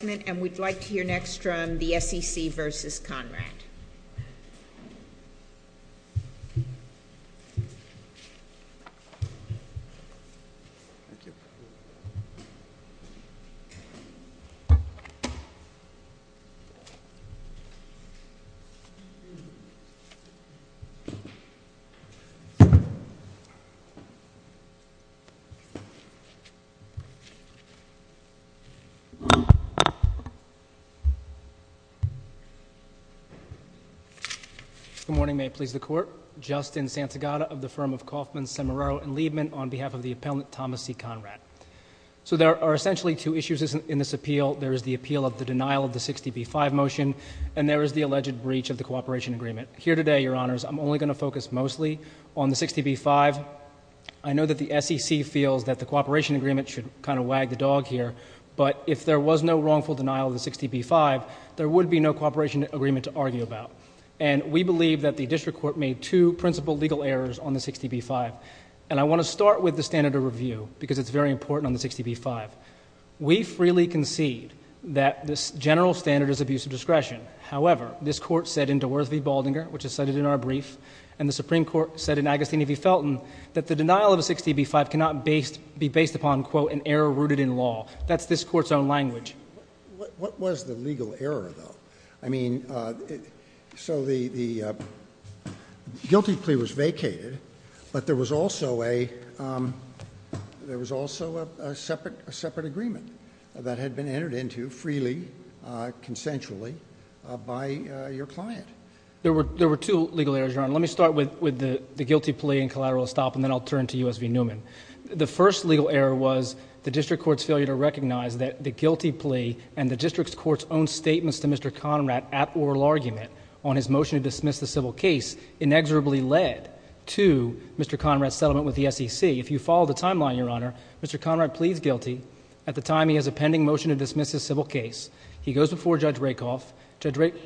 And we'd like to hear next from the SEC versus Conrad. Good morning, may it please the court. Justin Santagata of the firm of Kauffman, Semeraro, and Liebman on behalf of the appellant Thomas C. Conrad. So there are essentially two issues in this appeal. There is the appeal of the denial of the 60B5 motion, and there is the alleged breach of the cooperation agreement. Here today, your honors, I'm only going to focus mostly on the 60B5. I know that the SEC feels that the cooperation agreement should kind of wag the dog here, but if there was no wrongful denial of the 60B5, there would be no cooperation agreement to argue about. And we believe that the district court made two principal legal errors on the 60B5. And I want to start with the standard of review, because it's very important on the 60B5. We freely concede that this general standard is abuse of discretion. However, this court said in DeWorth v. Baldinger, which is cited in our brief, and the Supreme Court said in Agostini v. That's this court's own language. What was the legal error, though? I mean, so the guilty plea was vacated, but there was also a separate agreement that had been entered into freely, consensually, by your client. There were two legal errors, your honor. Let me start with the guilty plea and collateral estoppel, and then I'll turn to U.S. v. Newman. The first legal error was the district court's failure to recognize that the guilty plea and the district court's own statements to Mr. Conrad at oral argument on his motion to dismiss the civil case inexorably led to Mr. Conrad's settlement with the SEC. If you follow the timeline, your honor, Mr. Conrad pleads guilty. At the time, he has a pending motion to dismiss his civil case. He goes before Judge Rakoff. Judge Rakoff-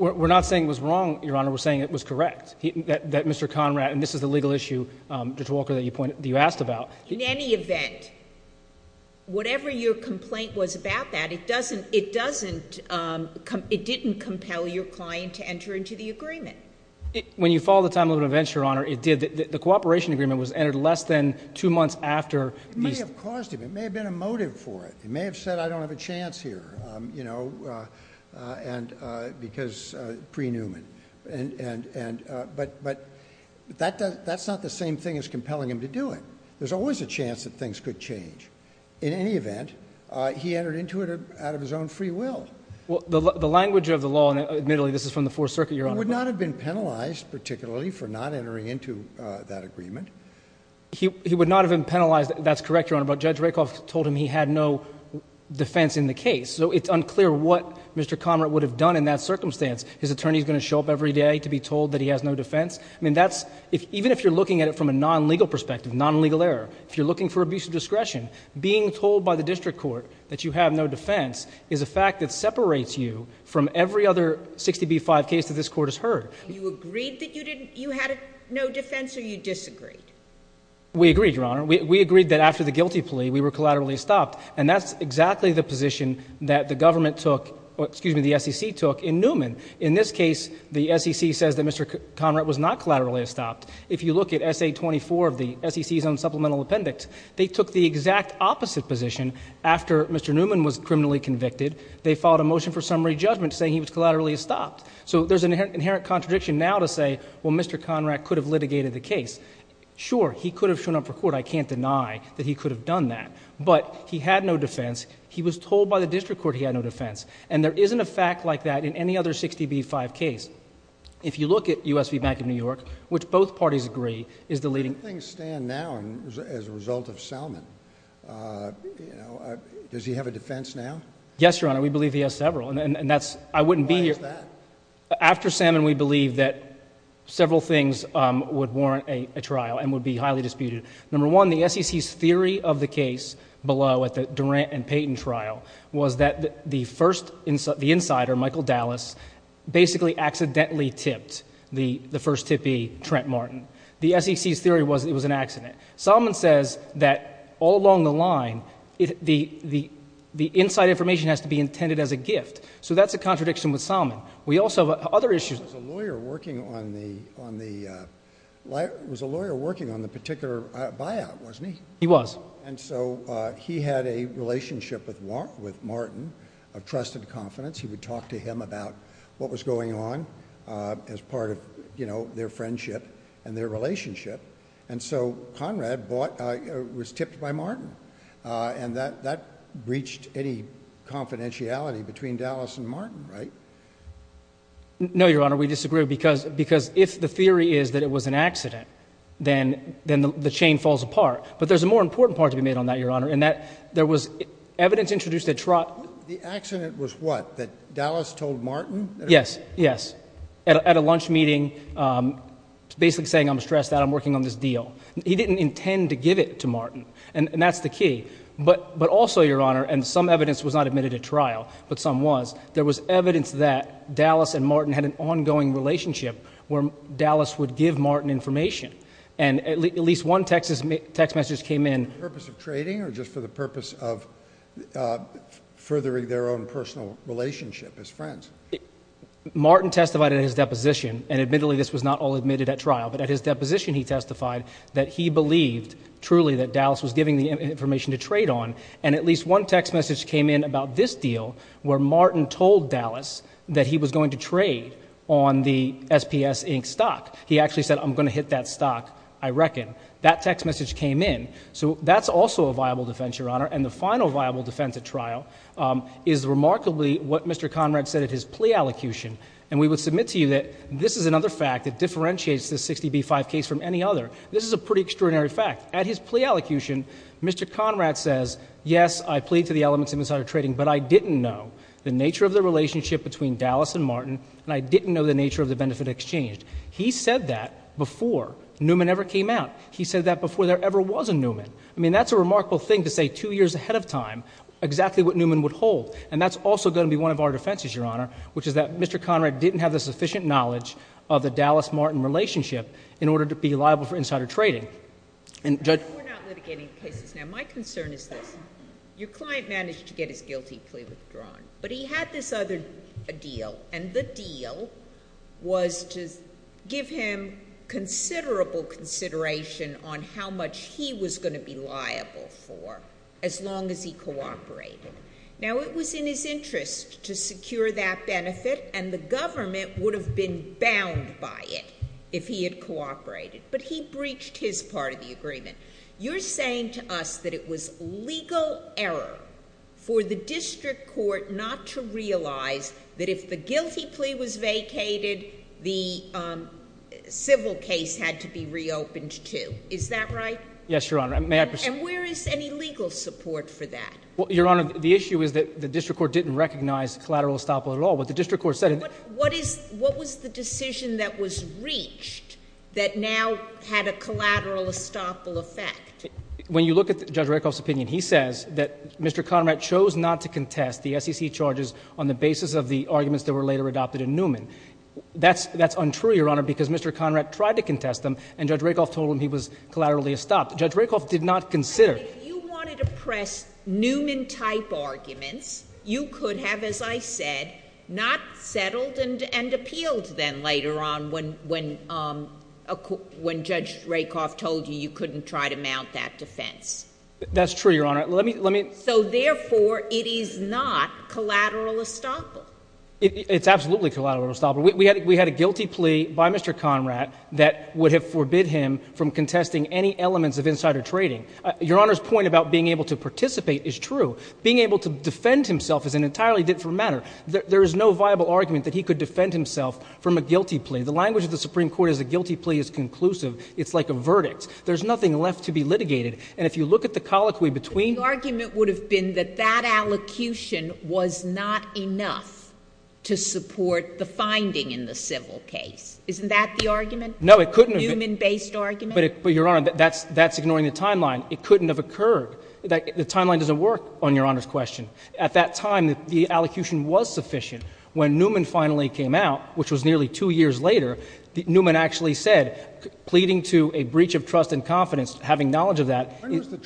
We're not saying it was wrong, your honor, we're saying it was correct, that Mr. Conrad- and this is the legal issue, Judge Walker, that you asked about. In any event, whatever your complaint was about that, it didn't compel your client to enter into the agreement. When you follow the timeline of events, your honor, it did. The cooperation agreement was entered less than two months after- It may have caused him, it may have been a motive for it. He may have said, I don't have a chance here, because pre-Newman. But that's not the same thing as compelling him to do it. There's always a chance that things could change. In any event, he entered into it out of his own free will. Well, the language of the law, and admittedly, this is from the Fourth Circuit, your honor- He would not have been penalized, particularly, for not entering into that agreement. He would not have been penalized, that's correct, your honor, but Judge Rakoff told him he had no defense in the case. So it's unclear what Mr. Conrad would have done in that circumstance. His attorney's going to show up every day to be told that he has no defense? I mean, even if you're looking at it from a non-legal perspective, non-legal error, if you're looking for abuse of discretion, being told by the district court that you have no defense is a fact that separates you from every other 60B5 case that this court has heard. You agreed that you had no defense, or you disagreed? We agreed, your honor. We agreed that after the guilty plea, we were collaterally stopped. And that's exactly the position that the government took, excuse me, the SEC took in Newman. In this case, the SEC says that Mr. Conrad was not collaterally stopped. If you look at SA 24 of the SEC's own supplemental appendix, they took the exact opposite position. After Mr. Newman was criminally convicted, they filed a motion for summary judgment saying he was collaterally stopped. So there's an inherent contradiction now to say, well, Mr. Conrad could have litigated the case. Sure, he could have shown up for court, I can't deny that he could have done that. But he had no defense, he was told by the district court he had no defense. And there isn't a fact like that in any other 60B5 case. If you look at USB Bank of New York, which both parties agree, is the leading- How do things stand now as a result of Salmon, does he have a defense now? Yes, your honor, we believe he has several, and that's, I wouldn't be here- Why is that? After Salmon, we believe that several things would warrant a trial and would be highly disputed. Number one, the SEC's theory of the case below at the Durant and Payton trial was that the first, the insider, Michael Dallas, basically accidentally tipped the first tippee, Trent Martin. The SEC's theory was it was an accident. Salmon says that all along the line, the inside information has to be intended as a gift. So that's a contradiction with Salmon. We also, other issues- Was a lawyer working on the particular buyout, wasn't he? He was. And so he had a relationship with Martin of trusted confidence. He would talk to him about what was going on as part of their friendship and their relationship. And so Conrad was tipped by Martin. And that breached any confidentiality between Dallas and Martin, right? No, Your Honor. We disagree because if the theory is that it was an accident, then the chain falls apart. But there's a more important part to be made on that, Your Honor, in that there was evidence introduced that- The accident was what? That Dallas told Martin? Yes, yes. At a lunch meeting, basically saying, I'm stressed out, I'm working on this deal. He didn't intend to give it to Martin. And that's the key. But also, Your Honor, and some evidence was not admitted at trial, but some was. There was evidence that Dallas and Martin had an ongoing relationship where Dallas would give Martin information. And at least one text message came in- For the purpose of trading or just for the purpose of furthering their own personal relationship as friends? Martin testified at his deposition, and admittedly this was not all admitted at trial. But at his deposition he testified that he believed, truly, that Dallas was giving the information to trade on. And at least one text message came in about this deal, where Martin told Dallas that he was going to trade on the SPS Inc stock. He actually said, I'm going to hit that stock, I reckon. That text message came in. So that's also a viable defense, Your Honor. And the final viable defense at trial is remarkably what Mr. Conrad said at his plea allocution. And we would submit to you that this is another fact that differentiates this 60B5 case from any other. This is a pretty extraordinary fact. At his plea allocution, Mr. Conrad says, yes, I plead to the elements of insider trading, but I didn't know the nature of the relationship between Dallas and Martin, and I didn't know the nature of the benefit exchange. He said that before Newman ever came out. He said that before there ever was a Newman. I mean, that's a remarkable thing to say two years ahead of time, exactly what Newman would hold. And that's also going to be one of our defenses, Your Honor, which is that Mr. Conrad didn't have the sufficient knowledge of the Dallas-Martin relationship in order to be liable for insider trading. And judge- We're not litigating cases now. My concern is this. Your client managed to get his guilty plea withdrawn, but he had this other deal. And the deal was to give him considerable consideration on how much he was going to be liable for as long as he cooperated. Now, it was in his interest to secure that benefit, and the government would have been bound by it if he had cooperated. But he breached his part of the agreement. You're saying to us that it was legal error for the district court not to realize that if the guilty plea was vacated, the civil case had to be reopened too, is that right? Yes, Your Honor, may I proceed? And where is any legal support for that? Your Honor, the issue is that the district court didn't recognize collateral estoppel at all. What the district court said- What was the decision that was reached that now had a collateral estoppel effect? When you look at Judge Rakoff's opinion, he says that Mr. Conrad chose not to contest the SEC charges on the basis of the arguments that were later adopted in Newman. That's untrue, Your Honor, because Mr. Conrad tried to contest them, and Judge Rakoff told him he was collaterally estopped. Judge Rakoff did not consider- If you wanted to press Newman-type arguments, you could have, as I said, not settled and appealed then later on when Judge Rakoff told you you couldn't try to mount that defense. That's true, Your Honor. Let me- So therefore, it is not collateral estoppel. It's absolutely collateral estoppel. We had a guilty plea by Mr. Conrad that would have forbid him from contesting any elements of insider trading. Your Honor's point about being able to participate is true. Being able to defend himself is an entirely different matter. There is no viable argument that he could defend himself from a guilty plea. The language of the Supreme Court is a guilty plea is conclusive. It's like a verdict. There's nothing left to be litigated. And if you look at the colloquy between- But the argument would have been that that allocution was not enough to support the finding in the civil case. Isn't that the argument? No, it couldn't have- Newman-based argument? But, Your Honor, that's ignoring the timeline. It couldn't have occurred. The timeline doesn't work on Your Honor's question. At that time, the allocution was sufficient. When Newman finally came out, which was nearly two years later, Newman actually said, pleading to a breach of trust and confidence, having knowledge of that- When was the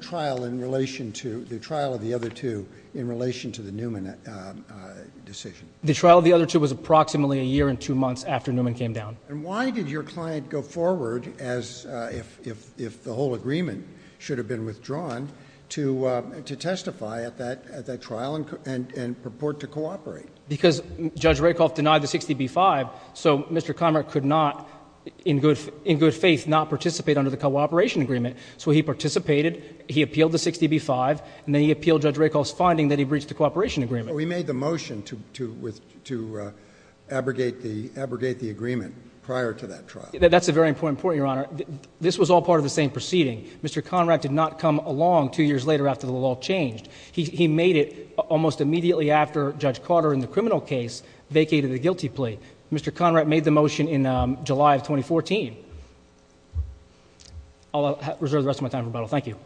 trial in relation to the trial of the other two in relation to the Newman decision? The trial of the other two was approximately a year and two months after Newman came down. And why did your client go forward as if the whole agreement should have been withdrawn to testify at that trial and purport to cooperate? Because Judge Rakoff denied the 60B-5, so Mr. Conrad could not, in good faith, not participate under the cooperation agreement. So he participated, he appealed the 60B-5, and then he appealed Judge Rakoff's finding that he breached the cooperation agreement. We made the motion to abrogate the agreement prior to that trial. That's a very important point, Your Honor. This was all part of the same proceeding. Mr. Conrad did not come along two years later after the law changed. He made it almost immediately after Judge Carter in the criminal case vacated the guilty plea. Mr. Conrad made the motion in July of 2014. I'll reserve the rest of my time for rebuttal. Thank you.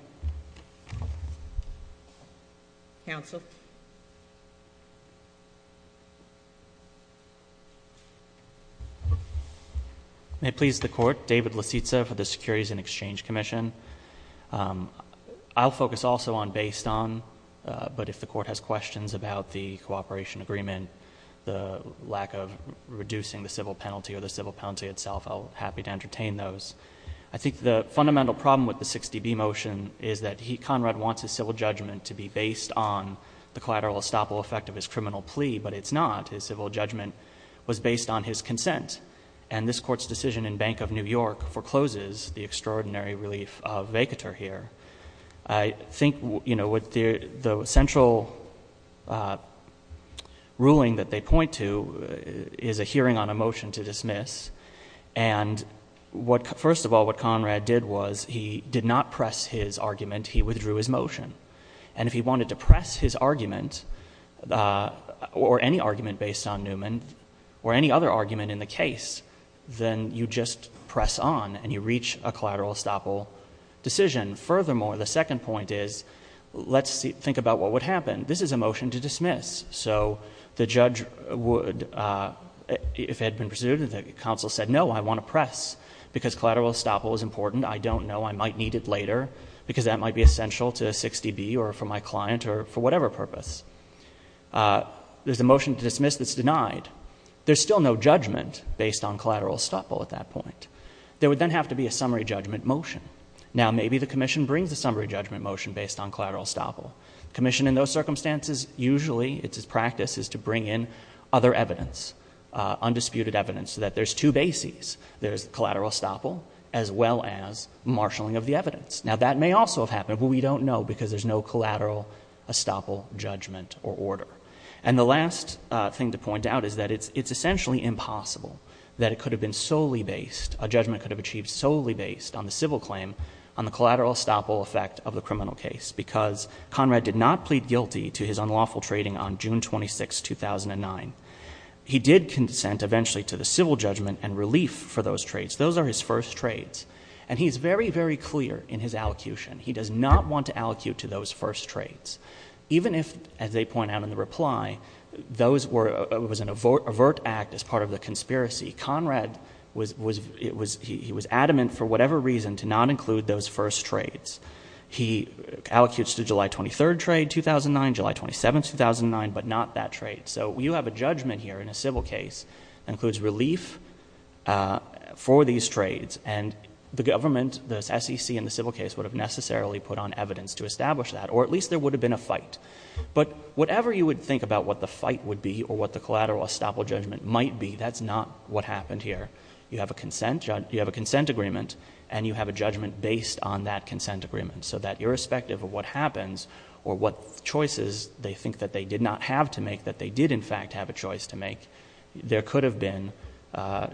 May it please the Court, David Lasitza for the Securities and Exchange Commission. I'll focus also on based on, but if the Court has questions about the cooperation agreement, the lack of reducing the civil penalty or the civil penalty itself, I'll be happy to entertain those. I think the fundamental problem with the 60B motion is that Conrad wants his civil judgment to be based on the collateral estoppel effect of his criminal plea, but it's not. His civil judgment was based on his consent, and this Court's decision in Bank of New York forecloses the extraordinary relief of vacatur here. I think, you know, the central ruling that they point to is a hearing on a motion to dismiss. And first of all, what Conrad did was he did not press his argument. He withdrew his motion. And if he wanted to press his argument or any argument based on Newman or any other argument in the case, then you just press on and you reach a collateral estoppel decision. Furthermore, the second point is, let's think about what would happen. This is a motion to dismiss. So the judge would, if it had been pursued, the counsel said, no, I want to press because collateral estoppel is important. I don't know. I might need it later because that might be essential to a 60B or for my client or for whatever purpose. There's a motion to dismiss that's denied. There's still no judgment based on collateral estoppel at that point. There would then have to be a summary judgment motion. Now maybe the commission brings a summary judgment motion based on collateral estoppel. Commission in those circumstances usually, it's its practice, is to bring in other evidence, undisputed evidence, so that there's two bases. There's collateral estoppel as well as marshalling of the evidence. Now that may also have happened, but we don't know because there's no collateral estoppel judgment or order. And the last thing to point out is that it's essentially impossible that it could have been solely based, a judgment could have achieved solely based on the civil claim on the collateral estoppel effect of the criminal case because Conrad did not plead guilty to his unlawful trading on June 26, 2009. He did consent eventually to the civil judgment and relief for those trades. Those are his first trades. And he's very, very clear in his allocution. He does not want to allocate to those first trades. Even if, as they point out in the reply, those were, it was an overt act as part of the conspiracy. Conrad was, he was adamant for whatever reason to not include those first trades. He allocutes to July 23rd trade, 2009, July 27th, 2009, but not that trade. So you have a judgment here in a civil case that includes relief for these trades. And the government, the SEC and the civil case would have necessarily put on evidence to establish that, or at least there would have been a fight. But whatever you would think about what the fight would be or what the collateral estoppel judgment might be, that's not what happened here. You have a consent, you have a consent agreement and you have a judgment based on that consent agreement. So that irrespective of what happens or what choices they think that they did not have to make, that they did in fact have a choice to make, there could have been,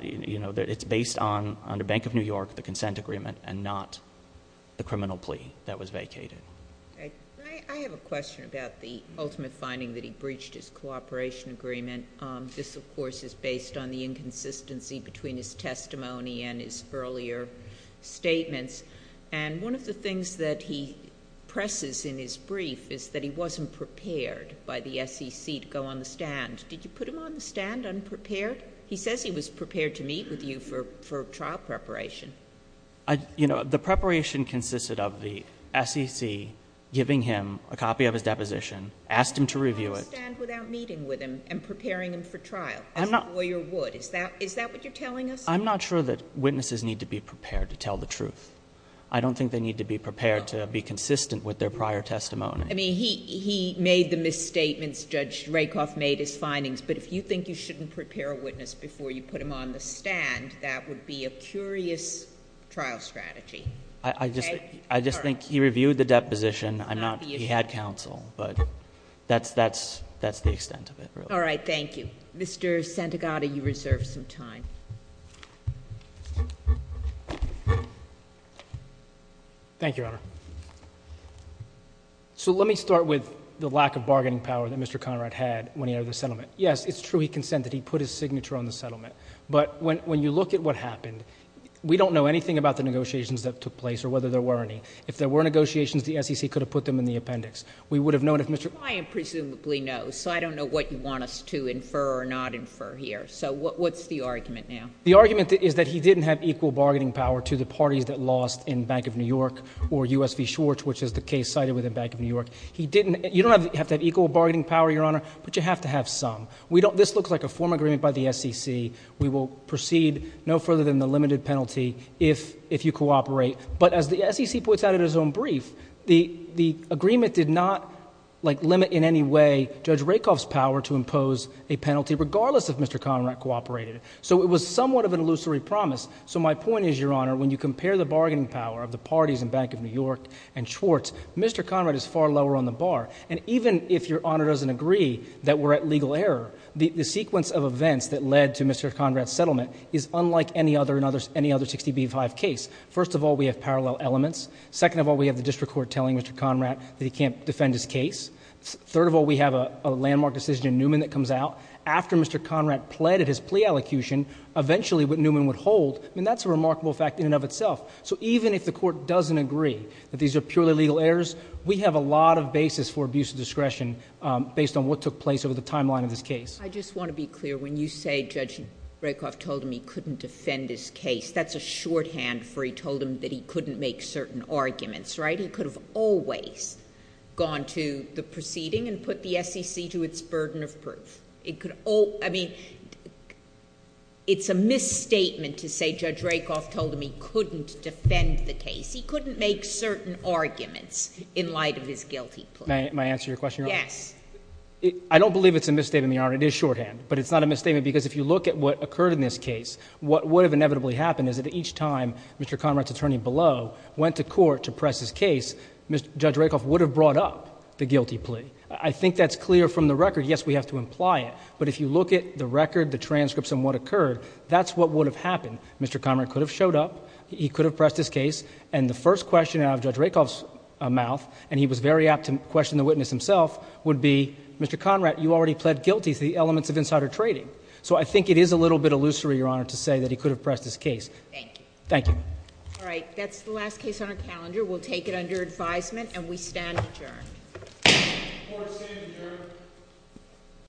you know, it's based on under Bank of New York, the consent agreement and not the criminal plea that was vacated. Okay. I have a question about the ultimate finding that he breached his cooperation agreement. This, of course, is based on the inconsistency between his testimony and his earlier statements. And one of the things that he presses in his brief is that he wasn't prepared by the SEC to go on the stand. Did you put him on the stand unprepared? He says he was prepared to meet with you for trial preparation. You know, the preparation consisted of the SEC giving him a copy of his deposition, asked him to review it. He didn't go on the stand without meeting with him and preparing him for trial, as a lawyer would. Is that what you're telling us? I'm not sure that witnesses need to be prepared to tell the truth. I don't think they need to be prepared to be consistent with their prior testimony. I mean, he made the misstatements, Judge Rakoff made his findings, but if you think you shouldn't prepare a witness before you put him on the stand, that would be a curious trial strategy. I just think he reviewed the deposition, he had counsel, but that's the extent of it really. All right. Thank you. Mr. Santagata, you reserve some time. Thank you, Your Honor. So let me start with the lack of bargaining power that Mr. Conrad had when he entered the settlement. Yes, it's true he consented. He put his signature on the settlement. But when you look at what happened, we don't know anything about the negotiations that took place or whether there were any. If there were negotiations, the SEC could have put them in the appendix. We would have known if Mr. — I am presumably no, so I don't know what you want us to infer or not infer here. So what's the argument now? The argument is that he didn't have equal bargaining power to the parties that lost in Bank of New York or U.S. v. Schwartz, which is the case cited within Bank of New York. He didn't — you don't have to have equal bargaining power, Your Honor, but you have to have some. We don't — this looks like a form agreement by the SEC. We will proceed no further than the limited penalty if you cooperate. But as the SEC puts out in its own brief, the agreement did not, like, limit in any way Judge Rakoff's power to impose a penalty regardless if Mr. Conrad cooperated. So it was somewhat of an illusory promise. So my point is, Your Honor, when you compare the bargaining power of the parties in Bank of New York and Schwartz, Mr. Conrad is far lower on the bar. And even if Your Honor doesn't agree that we're at legal error, the sequence of events that led to Mr. Conrad's settlement is unlike any other — any other 60b-5 case. First of all, we have parallel elements. Second of all, we have the district court telling Mr. Conrad that he can't defend his case. Third of all, we have a landmark decision in Newman that comes out. After Mr. Conrad pled at his plea allocution, eventually what Newman would hold — I mean, that's a remarkable fact in and of itself. So even if the Court doesn't agree that these are purely legal errors, we have a lot of basis for abuse of discretion based on what took place over the timeline of this case. I just want to be clear. When you say Judge Rakoff told him he couldn't defend his case, that's a shorthand for he told him that he couldn't make certain arguments, right? He could have always gone to the proceeding and put the SEC to its burden of proof. It could — I mean, it's a misstatement to say Judge Rakoff told him he couldn't defend the case. He couldn't make certain arguments in light of his guilty plea. Can I answer your question, Your Honor? Yes. I don't believe it's a misstatement, Your Honor. It is shorthand. But it's not a misstatement because if you look at what occurred in this case, what would have inevitably happened is that each time Mr. Conrad's attorney below went to court to press his case, Judge Rakoff would have brought up the guilty plea. I think that's clear from the record. Yes, we have to imply it. But if you look at the record, the transcripts and what occurred, that's what would have happened. Mr. Conrad could have showed up. He could have pressed his case. And the first question out of Judge Rakoff's mouth — and he was very apt to question the witness himself — would be, Mr. Conrad, you already pled guilty to the elements of insider trading. So I think it is a little bit illusory, Your Honor, to say that he could have pressed his case. Thank you. Thank you. All right. That's the last case on our calendar. We'll take it under advisement, and we stand adjourned.